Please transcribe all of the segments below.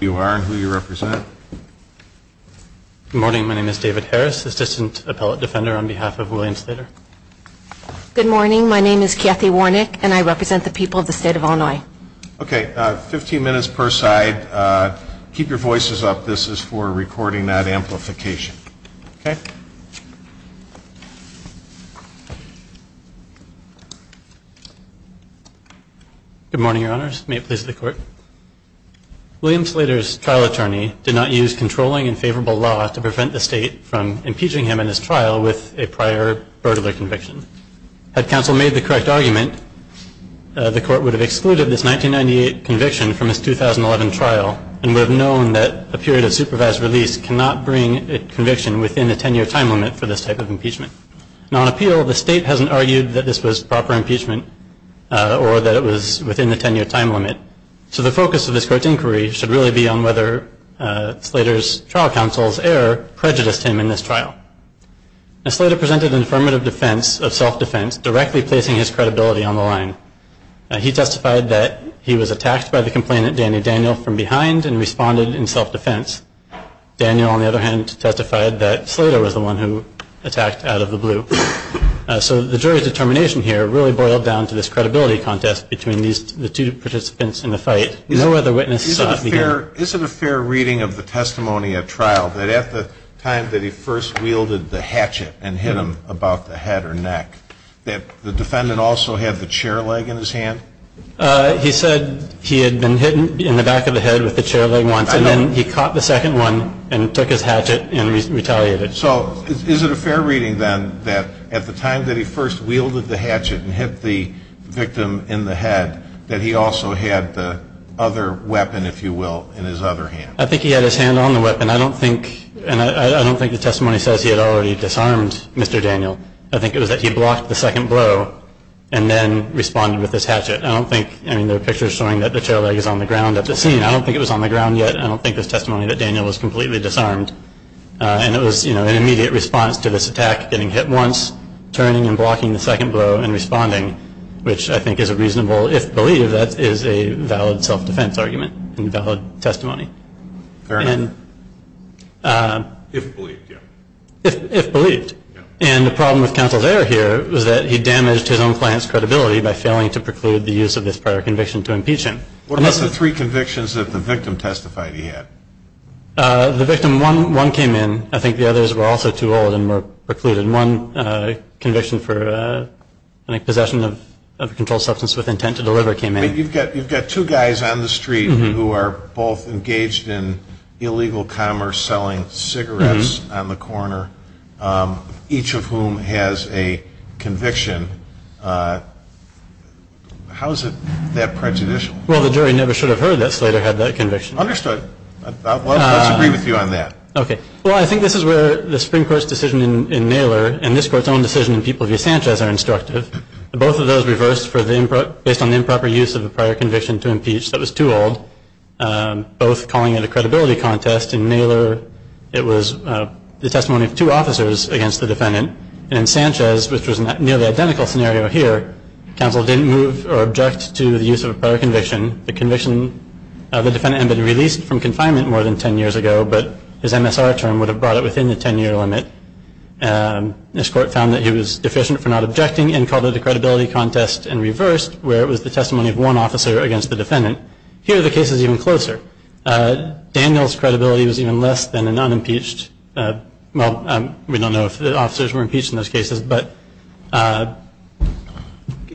Good morning, my name is Kathy Warnick, and I represent the people of the state of Illinois. Okay, 15 minutes per side. Keep your voices up. This is for recording that amplification. Okay. Good morning, Your Honors. May it please the Court. William Slater's trial attorney did not use controlling and favorable law to prevent the state from impeaching him in his trial with a prior burglar conviction. Had counsel made the correct argument, the Court would have excluded this 1998 conviction from his 2011 trial and would have known that a period of supervised release cannot bring a conviction within a 10-year time limit for this type of impeachment. Now, on appeal, the state hasn't argued that this was proper impeachment or that it was within the 10-year time limit. So the focus of this Court's inquiry should really be on whether Slater's trial counsel's error prejudiced him in this trial. Now, Slater presented an affirmative defense of self-defense, directly placing his credibility on the line. He testified that he was attacked by the complainant, Danny Daniel, from behind and responded in self-defense. Daniel, on the other hand, testified that Slater was the one who attacked out of the blue. So the jury's determination here really boiled down to this credibility contest between the two participants in the fight. No other witnesses saw it began. Is it a fair reading of the testimony at trial that at the time that he first wielded the hatchet and hit him about the head or neck that the defendant also had the chair leg in his hand? He said he had been hit in the back of the head with the chair leg once. I know. And then he caught the second one and took his hatchet and retaliated. So is it a fair reading, then, that at the time that he first wielded the hatchet and hit the victim in the head that he also had the other weapon, if you will, in his other hand? I think he had his hand on the weapon. I don't think the testimony says he had already disarmed Mr. Daniel. I think it was that he blocked the second blow and then responded with his hatchet. I don't think the picture is showing that the chair leg is on the ground at the scene. I don't think it was on the ground yet. I don't think the testimony that Daniel was completely disarmed. And it was an immediate response to this attack, getting hit once, turning and blocking the second blow and responding, which I think is a reasonable, if believed, that is a valid self-defense argument and valid testimony. Fair enough. If believed, yeah. If believed. And the problem with counsel's error here was that he damaged his own client's credibility by failing to preclude the use of this prior conviction to impeach him. What about the three convictions that the victim testified he had? The victim, one came in. I think the others were also too old and were precluded. One conviction for possession of a controlled substance with intent to deliver came in. You've got two guys on the street who are both engaged in illegal commerce, selling cigarettes on the corner, each of whom has a conviction. How is it that prejudicial? Well, the jury never should have heard that Slater had that conviction. Understood. Let's agree with you on that. Okay. Well, I think this is where the Supreme Court's decision in Naylor and this Court's own decision in People v. Sanchez are instructive. Both of those reversed based on the improper use of the prior conviction to impeach that was too old, both calling it a credibility contest. In Naylor, it was the testimony of two officers against the defendant. And in Sanchez, which was a nearly identical scenario here, counsel didn't move or object to the use of a prior conviction. The defendant had been released from confinement more than 10 years ago, but his MSR term would have brought it within the 10-year limit. This Court found that he was deficient for not objecting and called it a credibility contest and reversed where it was the testimony of one officer against the defendant. Here, the case is even closer. Daniel's credibility was even less than an unimpeached. Well, we don't know if the officers were impeached in those cases, but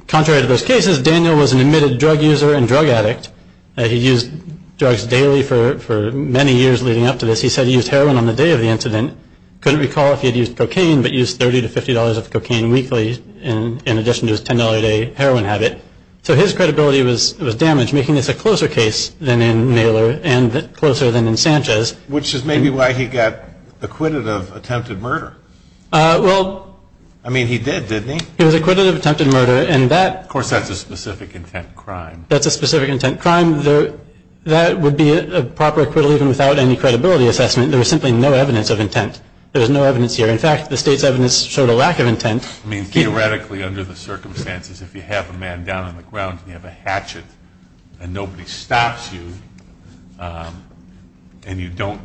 contrary to those cases, Daniel was an admitted drug user and drug addict. He used drugs daily for many years leading up to this. He said he used heroin on the day of the incident. Couldn't recall if he had used cocaine, but used $30 to $50 of cocaine weekly in addition to his $10 a day heroin habit. So his credibility was damaged, making this a closer case than in Naylor and closer than in Sanchez. Which is maybe why he got acquitted of attempted murder. Well. I mean, he did, didn't he? He was acquitted of attempted murder, and that. Of course, that's a specific intent crime. That's a specific intent crime. That would be a proper acquittal even without any credibility assessment. There was simply no evidence of intent. There was no evidence here. In fact, the State's evidence showed a lack of intent. I mean, theoretically, under the circumstances, if you have a man down on the ground and you have a hatchet and nobody stops you and you don't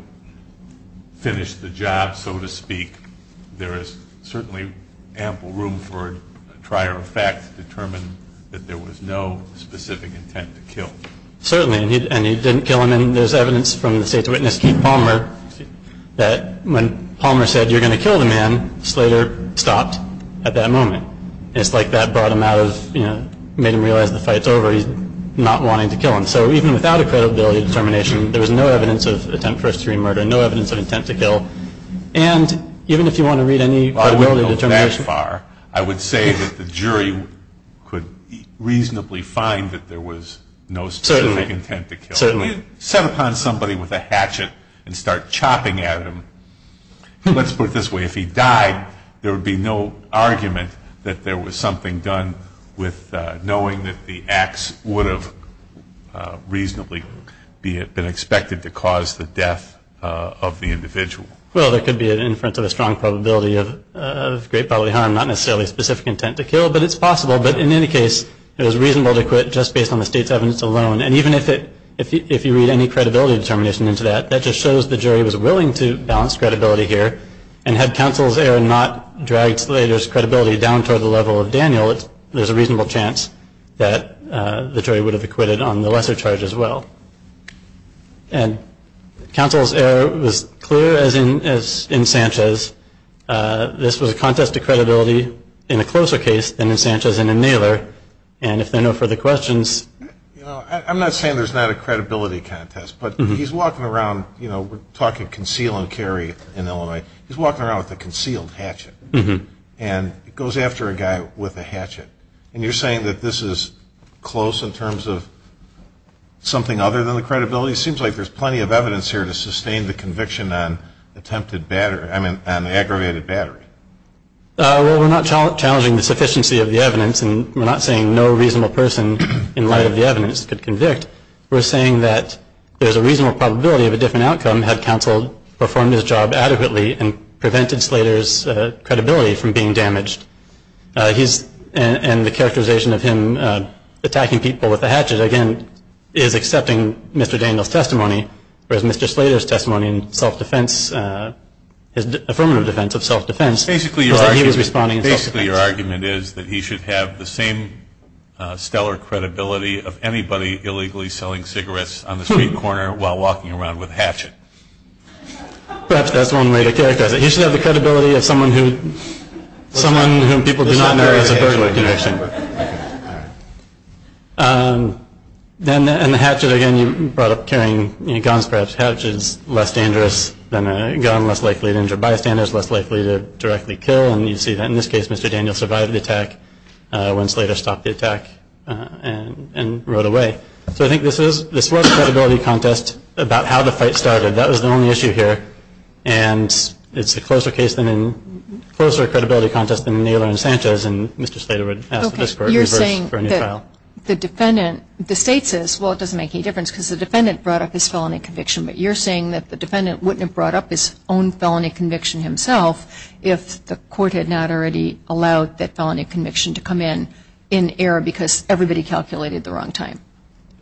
finish the job, so to speak, there is certainly ample room for a trier of fact to determine that there was no specific intent to kill. Certainly. And he didn't kill him. And there's evidence from the State's witness, Keith Palmer, that when Palmer said, you're going to kill the man, Slater stopped at that moment. And it's like that brought him out of, you know, made him realize the fight's over. He's not wanting to kill him. So even without a credibility determination, there was no evidence of attempt first-degree murder, no evidence of intent to kill. And even if you want to read any credibility determination. Well, I wouldn't go that far. I would say that the jury could reasonably find that there was no specific intent to kill. Certainly. If you set upon somebody with a hatchet and start chopping at him, let's put it this way, if he died, there would be no argument that there was something done with knowing that the axe would have reasonably been expected to cause the death of the individual. Well, there could be an inference of a strong probability of great bodily harm, not necessarily specific intent to kill, but it's possible. But in any case, it was reasonable to quit just based on the State's evidence alone. And even if you read any credibility determination into that, that just shows the jury was willing to balance credibility here. And had counsel's error not dragged Slater's credibility down toward the level of Daniel, there's a reasonable chance that the jury would have acquitted on the lesser charge as well. And counsel's error was clear, as in Sanchez. This was a contest to credibility in a closer case than in Sanchez and in Naylor. And if there are no further questions. I'm not saying there's not a credibility contest, but he's walking around, you know, we're talking conceal and carry in Illinois. He's walking around with a concealed hatchet and goes after a guy with a hatchet. And you're saying that this is close in terms of something other than the credibility? It seems like there's plenty of evidence here to sustain the conviction on attempted battery, I mean on the aggravated battery. Well, we're not challenging the sufficiency of the evidence, and we're not saying no reasonable person in light of the evidence could convict. We're saying that there's a reasonable probability of a different outcome had counsel performed his job adequately and prevented Slater's credibility from being damaged. And the characterization of him attacking people with a hatchet, again, is accepting Mr. Daniel's testimony, whereas Mr. Slater's testimony in self-defense, his affirmative defense of self-defense, was that he was responding in self-defense. So basically your argument is that he should have the same stellar credibility of anybody illegally selling cigarettes on the street corner while walking around with a hatchet. Perhaps that's one way to characterize it. He should have the credibility of someone who people do not know has a burglary conviction. And the hatchet, again, you brought up carrying guns, perhaps a hatchet is less dangerous than a gun, less likely to injure bystanders, less likely to directly kill. And you see that in this case Mr. Daniel survived the attack when Slater stopped the attack and rode away. So I think this was a credibility contest about how the fight started. That was the only issue here. And it's a closer credibility contest than Naylor and Sanchez, and Mr. Slater would ask for a new trial. Okay. You're saying that the defendant, the State says, well, it doesn't make any difference because the defendant brought up his felony conviction, but you're saying that the defendant wouldn't have brought up his own felony conviction himself if the court had not already allowed that felony conviction to come in, in error because everybody calculated the wrong time.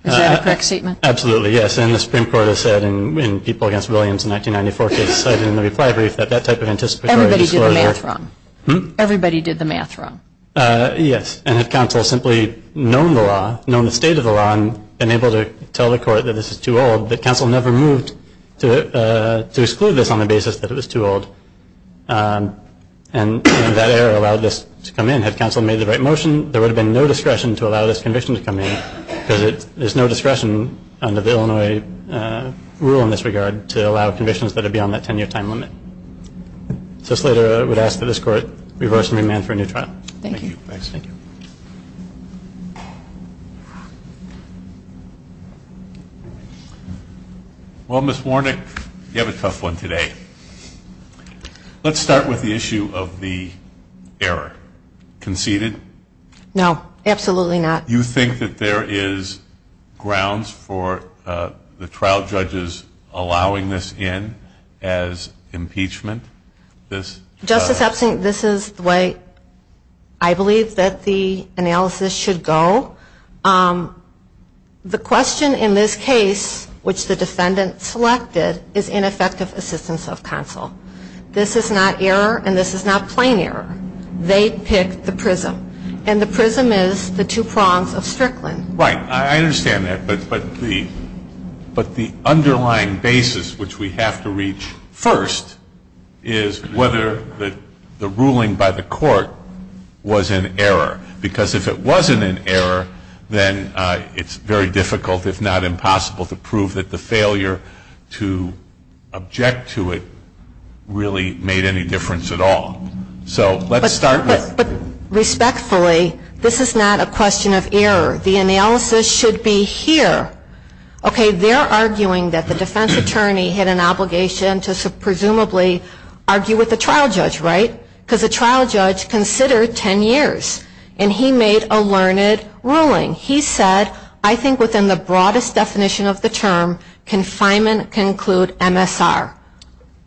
Is that a correct statement? Absolutely, yes. And the Supreme Court has said, and people against Williams in the 1994 case cited in the reply brief, that that type of anticipatory disclosure. Everybody did the math wrong. Everybody did the math wrong. Yes. And if counsel had simply known the law, known the state of the law, and been able to tell the court that this is too old, that counsel never moved to exclude this on the basis that it was too old, and that error allowed this to come in, had counsel made the right motion, there would have been no discretion to allow this conviction to come in because there's no discretion under the Illinois rule in this regard to allow convictions that are beyond that 10-year time limit. So Slater would ask that this court reverse and remand for a new trial. Thank you. Thanks. Thank you. Well, Ms. Warnick, you have a tough one today. Let's start with the issue of the error. Conceded? No, absolutely not. You think that there is grounds for the trial judges allowing this in as impeachment? Justice Epstein, this is the way I believe that the analysis should go. The question in this case, which the defendant selected, is ineffective assistance of counsel. This is not error, and this is not plain error. They picked the prism, and the prism is the two prongs of Strickland. Right. I understand that. But the underlying basis, which we have to reach first, is whether the ruling by the court was an error, because if it wasn't an error, then it's very difficult, if not impossible, to prove that the failure to object to it really made any difference at all. So let's start with. But respectfully, this is not a question of error. The analysis should be here. Okay, they're arguing that the defense attorney had an obligation to presumably argue with the trial judge, right? Because the trial judge considered 10 years, and he made a learned ruling. He said, I think within the broadest definition of the term, confinement can include MSR.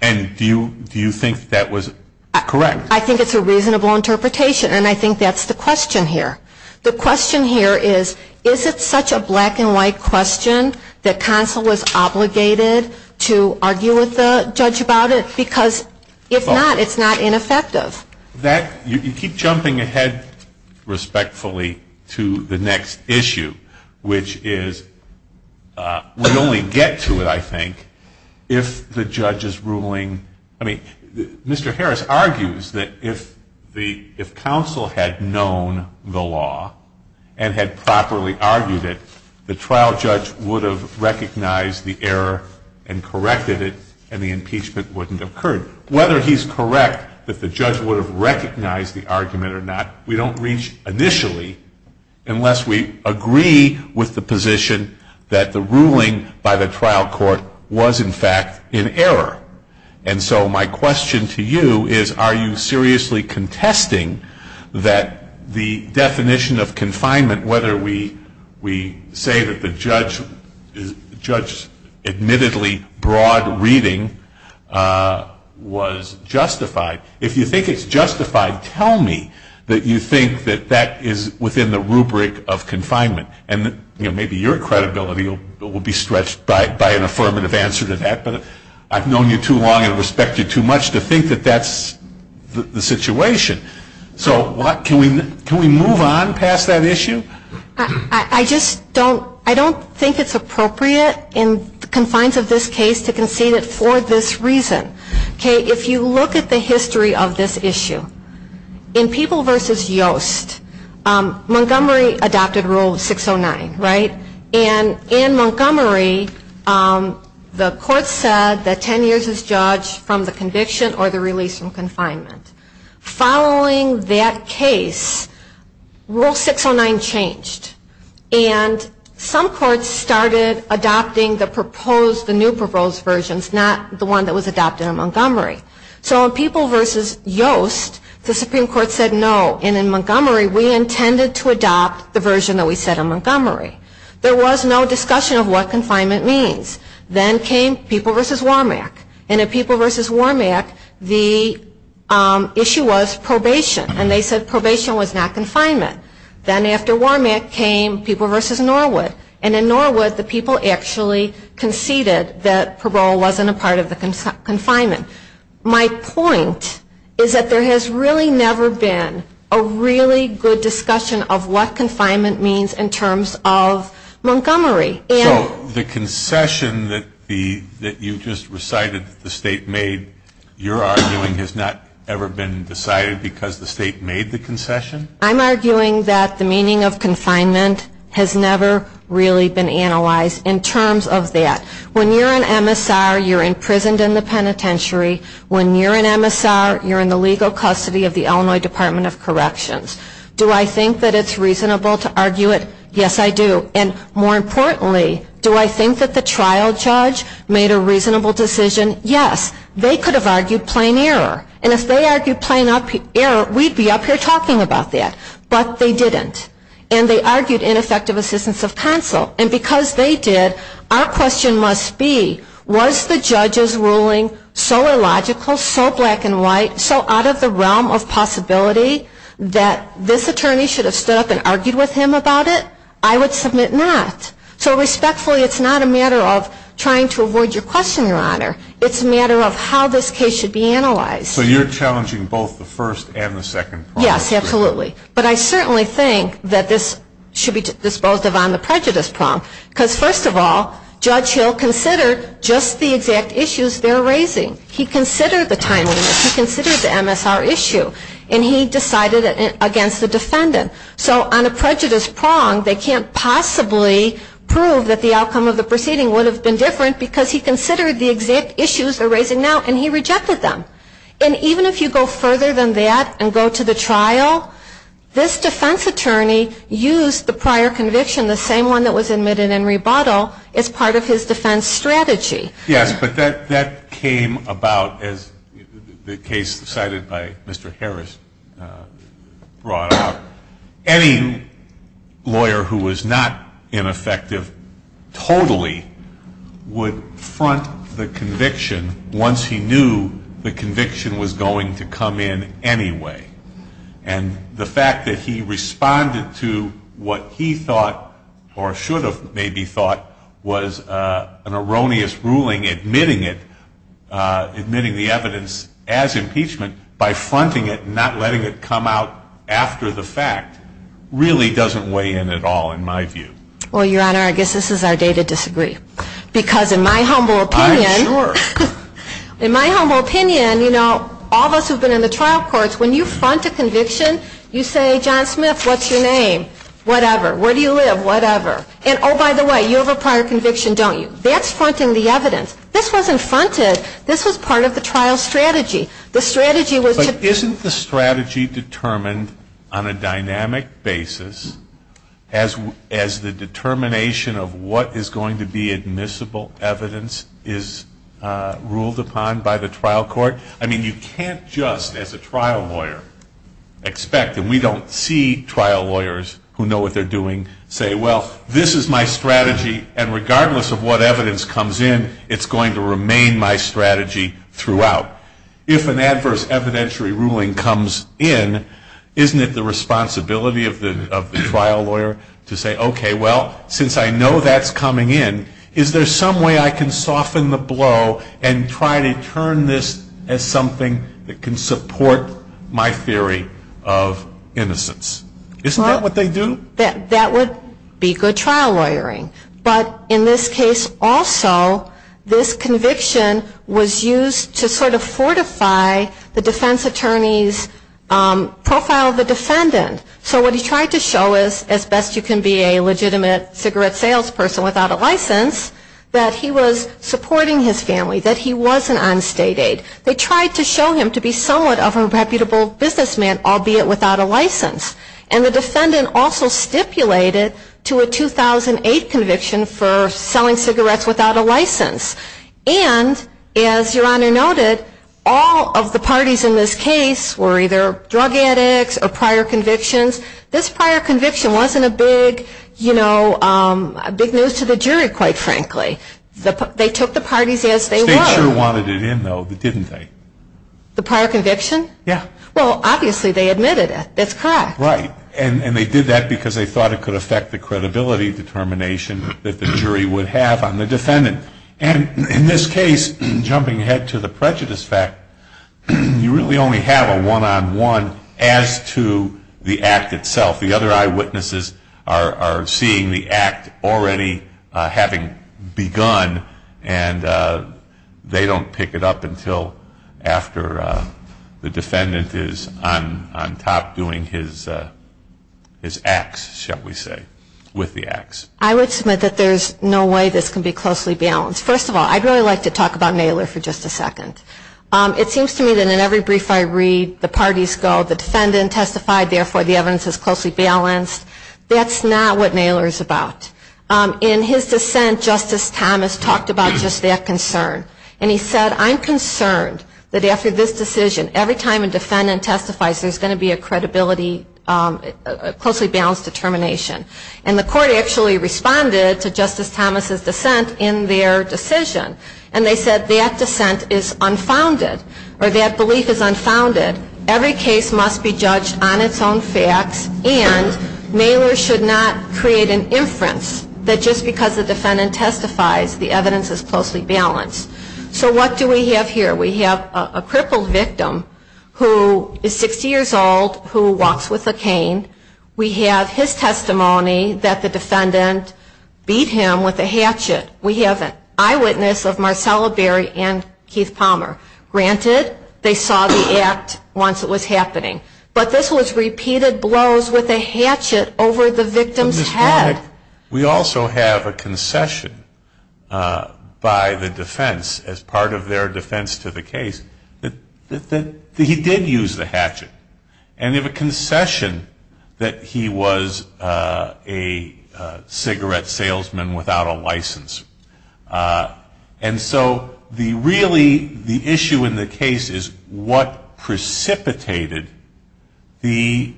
And do you think that was correct? I think it's a reasonable interpretation, and I think that's the question here. The question here is, is it such a black-and-white question that counsel was obligated to argue with the judge about it? Because if not, it's not ineffective. You keep jumping ahead respectfully to the next issue, which is we only get to it, I think, if the judge is ruling. I mean, Mr. Harris argues that if counsel had known the law and had properly argued it, the trial judge would have recognized the error and corrected it, and the impeachment wouldn't have occurred. Whether he's correct that the judge would have recognized the argument or not, we don't reach initially unless we agree with the position that the ruling by the trial court was, in fact, in error. And so my question to you is, are you seriously contesting that the definition of confinement, whether we say that the judge's admittedly broad reading was justified? If you think it's justified, tell me that you think that that is within the rubric of confinement. And maybe your credibility will be stretched by an affirmative answer to that, but I've known you too long and respect you too much to think that that's the situation. So can we move on past that issue? I just don't think it's appropriate in the confines of this case to concede it for this reason. If you look at the history of this issue, in People v. Yost, Montgomery adopted Rule 609, right? And in Montgomery, the court said that 10 years is judged from the conviction or the release from confinement. Following that case, Rule 609 changed, and some courts started adopting the proposed, the new proposed versions, not the one that was adopted in Montgomery. So in People v. Yost, the Supreme Court said no, and in Montgomery, we intended to adopt the version that we said in Montgomery. There was no discussion of what confinement means. Then came People v. Wormack, and in People v. Wormack, the issue was probation, and they said probation was not confinement. Then after Wormack came People v. Norwood, and in Norwood, the people actually conceded that parole wasn't a part of the confinement. My point is that there has really never been a really good discussion of what confinement means in terms of Montgomery. So the concession that you just recited that the state made, you're arguing has not ever been decided because the state made the concession? I'm arguing that the meaning of confinement has never really been analyzed in terms of that. When you're an MSR, you're imprisoned in the penitentiary. When you're an MSR, you're in the legal custody of the Illinois Department of Corrections. Do I think that it's reasonable to argue it? Yes, I do, and more importantly, do I think that the trial judge made a reasonable decision? Yes. They could have argued plain error, and if they argued plain error, we'd be up here talking about that, but they didn't, and they argued ineffective assistance of counsel, and because they did, our question must be, was the judge's ruling so illogical, so black and white, so out of the realm of possibility, that this attorney should have stood up and argued with him about it? I would submit not. So respectfully, it's not a matter of trying to avoid your question, Your Honor. It's a matter of how this case should be analyzed. So you're challenging both the first and the second part of it? Yes, absolutely. But I certainly think that this should be disposed of on the prejudice prong, because first of all, Judge Hill considered just the exact issues they're raising. He considered the timeliness. He considered the MSR issue, and he decided against the defendant. So on a prejudice prong, they can't possibly prove that the outcome of the proceeding would have been different because he considered the exact issues they're raising now, and he rejected them. And even if you go further than that and go to the trial, this defense attorney used the prior conviction, the same one that was admitted in rebuttal, as part of his defense strategy. Yes, but that came about as the case cited by Mr. Harris brought up. Any lawyer who was not ineffective totally would front the conviction once he knew the conviction was going to come in anyway. And the fact that he responded to what he thought, or should have maybe thought, was an erroneous ruling admitting it, admitting the evidence as impeachment, by fronting it and not letting it come out after the fact, really doesn't weigh in at all in my view. Well, Your Honor, I guess this is our day to disagree. Because in my humble opinion. I'm sure. In my humble opinion, you know, all of us who have been in the trial courts, when you front a conviction, you say, John Smith, what's your name? Whatever. Where do you live? Whatever. And, oh, by the way, you have a prior conviction, don't you? That's fronting the evidence. This wasn't fronted. This was part of the trial strategy. The strategy was to. But isn't the strategy determined on a dynamic basis as the determination of what is going to be admissible evidence is ruled upon by the trial court? I mean, you can't just, as a trial lawyer, expect, and we don't see trial lawyers who know what they're doing, say, well, this is my strategy, and regardless of what evidence comes in, it's going to remain my strategy throughout. If an adverse evidentiary ruling comes in, isn't it the responsibility of the trial lawyer to say, okay, well, since I know that's coming in, is there some way I can soften the blow and try to turn this as something that can support my theory of innocence? Isn't that what they do? That would be good trial lawyering. But in this case also, this conviction was used to sort of fortify the defense attorney's profile of the defendant. So what he tried to show is, as best you can be a legitimate cigarette salesperson without a license, that he was supporting his family, that he wasn't on state aid. They tried to show him to be somewhat of a reputable businessman, albeit without a license. And the defendant also stipulated to a 2008 conviction for selling cigarettes without a license. And as Your Honor noted, all of the parties in this case were either drug addicts or prior convictions. This prior conviction wasn't a big news to the jury, quite frankly. They took the parties as they were. The state sure wanted it in, though, didn't they? The prior conviction? Yeah. Well, obviously they admitted it. That's correct. Right. And they did that because they thought it could affect the credibility determination that the jury would have on the defendant. And in this case, jumping ahead to the prejudice fact, you really only have a one-on-one as to the act itself. The other eyewitnesses are seeing the act already having begun. And they don't pick it up until after the defendant is on top doing his acts, shall we say, with the acts. I would submit that there's no way this can be closely balanced. First of all, I'd really like to talk about Naylor for just a second. It seems to me that in every brief I read, the parties go, the defendant testified, therefore the evidence is closely balanced. That's not what Naylor is about. In his dissent, Justice Thomas talked about just that concern. And he said, I'm concerned that after this decision, every time a defendant testifies, there's going to be a closely balanced determination. And the court actually responded to Justice Thomas' dissent in their decision. And they said that dissent is unfounded, or that belief is unfounded. Every case must be judged on its own facts. And Naylor should not create an inference that just because the defendant testifies, the evidence is closely balanced. So what do we have here? We have a crippled victim who is 60 years old, who walks with a cane. We have his testimony that the defendant beat him with a hatchet. We have an eyewitness of Marcella Berry and Keith Palmer. Granted, they saw the act once it was happening. But this was repeated blows with a hatchet over the victim's head. We also have a concession by the defense, as part of their defense to the case, that he did use the hatchet. And they have a concession that he was a cigarette salesman without a license. And so really the issue in the case is what precipitated the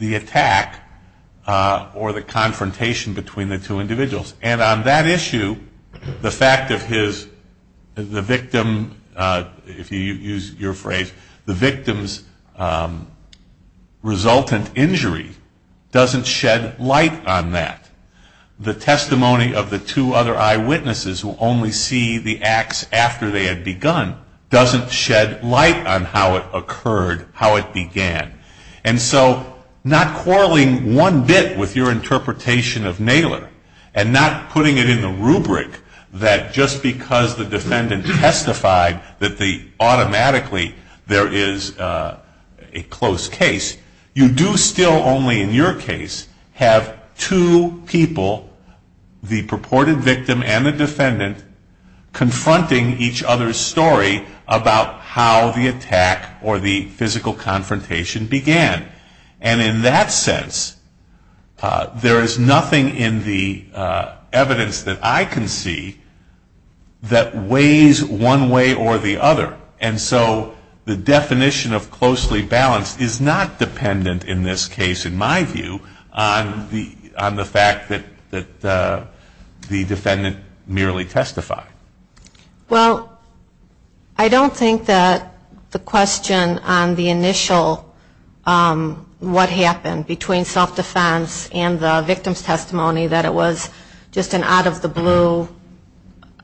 attack or the confrontation between the two individuals. And on that issue, the fact of his, the victim, if you use your phrase, the victim's resultant injury doesn't shed light on that. The testimony of the two other eyewitnesses who only see the acts after they had begun doesn't shed light on how it occurred, how it began. And so not quarreling one bit with your interpretation of Naylor and not putting it in the rubric that just because the defendant testified that automatically there is a close case, you do still only in your case have two people, the purported victim and the defendant, confronting each other's story about how the attack or the physical confrontation began. And in that sense, there is nothing in the evidence that I can see that weighs one way or the other. And so the definition of closely balanced is not dependent in this case, in my view, on the fact that the defendant merely testified. Well, I don't think that the question on the initial what happened between self-defense and the victim's testimony, that it was just an out of the blue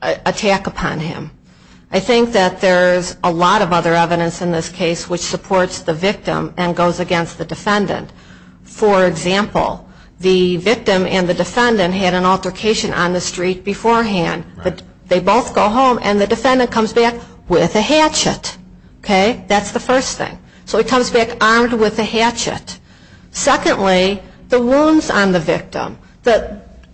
attack upon him. I think that there is a lot of other evidence in this case which supports the victim and goes against the defendant. For example, the victim and the defendant had an altercation on the street beforehand, but they both go home and the defendant comes back with a hatchet. Okay? That's the first thing. So he comes back armed with a hatchet. Secondly, the wounds on the victim.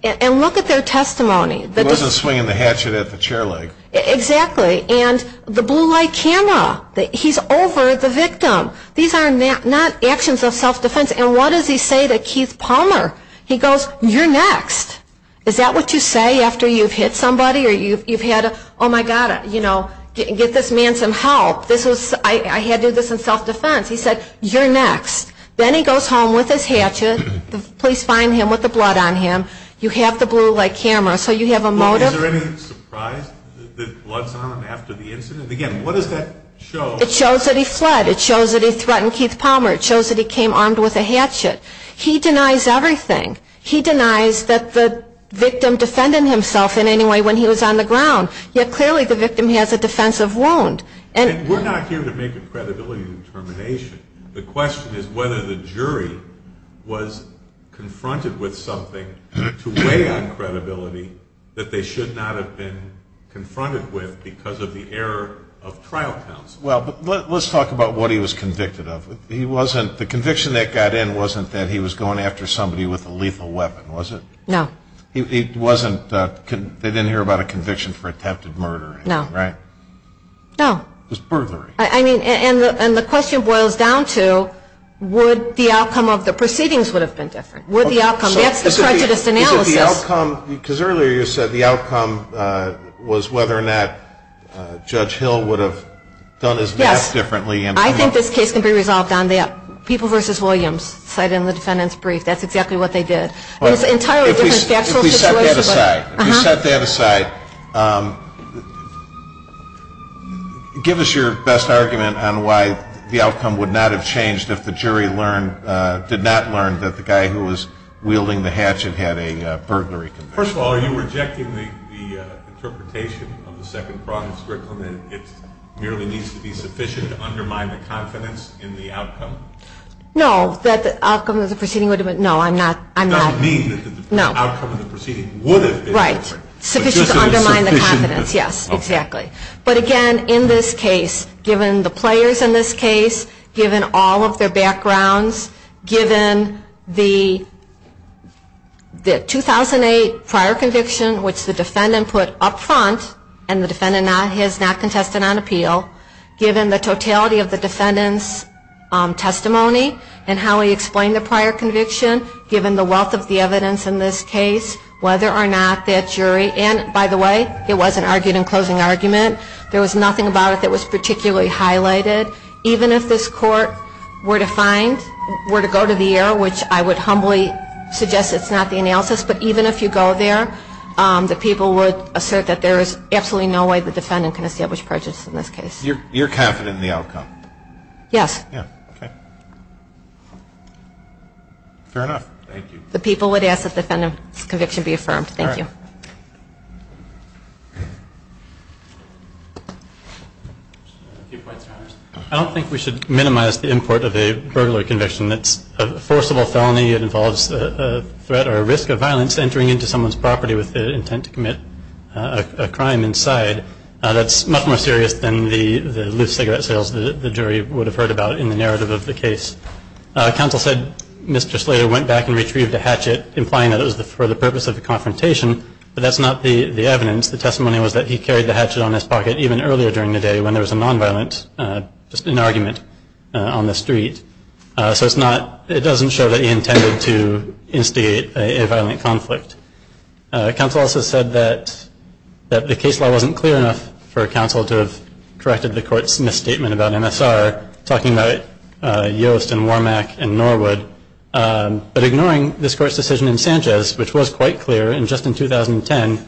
And look at their testimony. He wasn't swinging the hatchet at the chair leg. Exactly. And the blue light camera. He's over the victim. These are not actions of self-defense. And what does he say to Keith Palmer? He goes, you're next. Is that what you say after you've hit somebody or you've had, oh, my God, get this man some help? I had to do this in self-defense. He said, you're next. Then he goes home with his hatchet. The police find him with the blood on him. You have the blue light camera, so you have a motive. Is there any surprise that blood's on him after the incident? Again, what does that show? It shows that he fled. It shows that he threatened Keith Palmer. It shows that he came armed with a hatchet. He denies everything. He denies that the victim defended himself in any way when he was on the ground, yet clearly the victim has a defensive wound. And we're not here to make a credibility determination. The question is whether the jury was confronted with something to weigh on credibility that they should not have been confronted with because of the error of trial counsel. Well, let's talk about what he was convicted of. The conviction that got in wasn't that he was going after somebody with a lethal weapon, was it? No. They didn't hear about a conviction for attempted murder, right? No. No. It was burglary. And the question boils down to would the outcome of the proceedings would have been different? Would the outcome? That's the prejudice analysis. Is it the outcome? Because earlier you said the outcome was whether or not Judge Hill would have done his math differently. Yes. I think this case can be resolved on that. People v. Williams cited in the defendant's brief. That's exactly what they did. It's an entirely different factual situation. If you set that aside, give us your best argument on why the outcome would not have changed if the jury learned, did not learn that the guy who was wielding the hatchet had a burglary conviction. First of all, are you rejecting the interpretation of the second fraudulent curriculum that it merely needs to be sufficient to undermine the confidence in the outcome? No, that the outcome of the proceeding would have been. No, I'm not. I don't mean that the outcome of the proceeding would have been different. Right, sufficient to undermine the confidence. Yes, exactly. But again, in this case, given the players in this case, given all of their backgrounds, given the 2008 prior conviction, which the defendant put up front and the defendant has not contested on appeal, given the totality of the defendant's testimony and how he presented the evidence in this case, whether or not that jury, and by the way, it wasn't argued in closing argument. There was nothing about it that was particularly highlighted. Even if this court were to find, were to go to the error, which I would humbly suggest it's not the analysis, but even if you go there, the people would assert that there is absolutely no way the defendant can establish prejudice in this case. You're confident in the outcome? Yes. Yeah, okay. Fair enough. Thank you. The people would ask that the defendant's conviction be affirmed. Thank you. I don't think we should minimize the import of a burglar conviction. It's a forcible felony. It involves a threat or a risk of violence entering into someone's property with the intent to commit a crime inside. That's much more serious than the loose cigarette sales the jury would have heard about in the narrative of the case. Counsel said Mr. Slater went back and retrieved a hatchet, implying that it was for the purpose of a confrontation, but that's not the evidence. The testimony was that he carried the hatchet on his pocket even earlier during the day when there was a nonviolent, just an argument, on the street. So it's not, it doesn't show that he intended to instigate a violent conflict. Counsel also said that the case law wasn't clear enough for counsel to have misstatement about MSR, talking about Yost and Wormack and Norwood, but ignoring this court's decision in Sanchez, which was quite clear just in 2010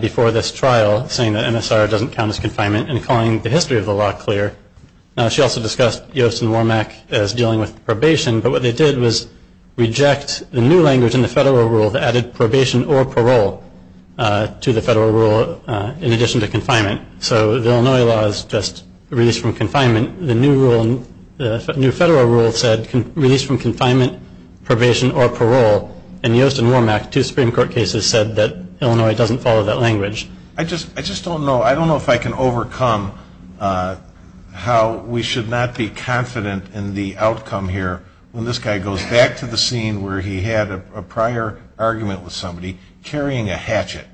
before this trial, saying that MSR doesn't count as confinement and calling the history of the law clear. She also discussed Yost and Wormack as dealing with probation, but what they did was reject the new language in the federal rule that added probation or parole to the federal rule in addition to confinement. So the Illinois law is just release from confinement. The new federal rule said release from confinement, probation or parole, and Yost and Wormack, two Supreme Court cases, said that Illinois doesn't follow that language. I just don't know. I don't know if I can overcome how we should not be confident in the outcome here when this guy goes back to the scene where he had a prior argument with somebody carrying a hatchet.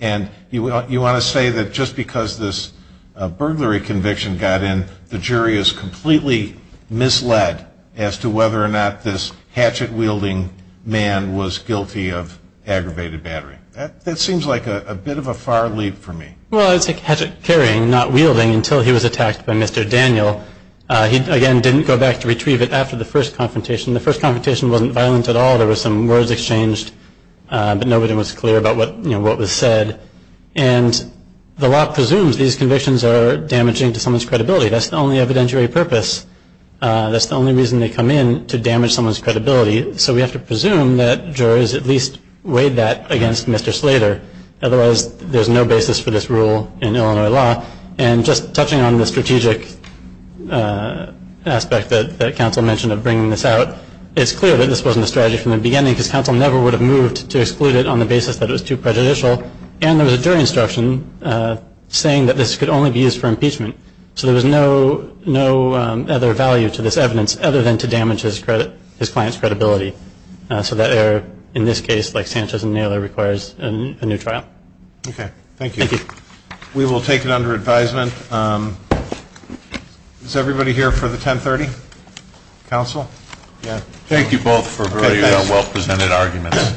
And you want to say that just because this burglary conviction got in, the jury is completely misled as to whether or not this hatchet-wielding man was guilty of aggravated battery. That seems like a bit of a far leap for me. Well, it's a hatchet-carrying, not wielding, until he was attacked by Mr. Daniel. He, again, didn't go back to retrieve it after the first confrontation. The first confrontation wasn't violent at all. There were some words exchanged, but nobody was clear about what was said. And the law presumes these convictions are damaging to someone's credibility. That's the only evidentiary purpose. That's the only reason they come in, to damage someone's credibility. So we have to presume that jurors at least weighed that against Mr. Slater. Otherwise, there's no basis for this rule in Illinois law. And just touching on the strategic aspect that counsel mentioned of bringing this out, it's clear that this wasn't a strategy from the beginning because counsel never would have moved to exclude it on the basis that it was too prejudicial. And there was a jury instruction saying that this could only be used for impeachment. So there was no other value to this evidence other than to damage his client's credibility. So that error, in this case, like Sanchez and Naylor, requires a new trial. Okay. Thank you. Thank you. We will take it under advisement. Is everybody here for the 1030? Counsel? Thank you both for very well-presented arguments.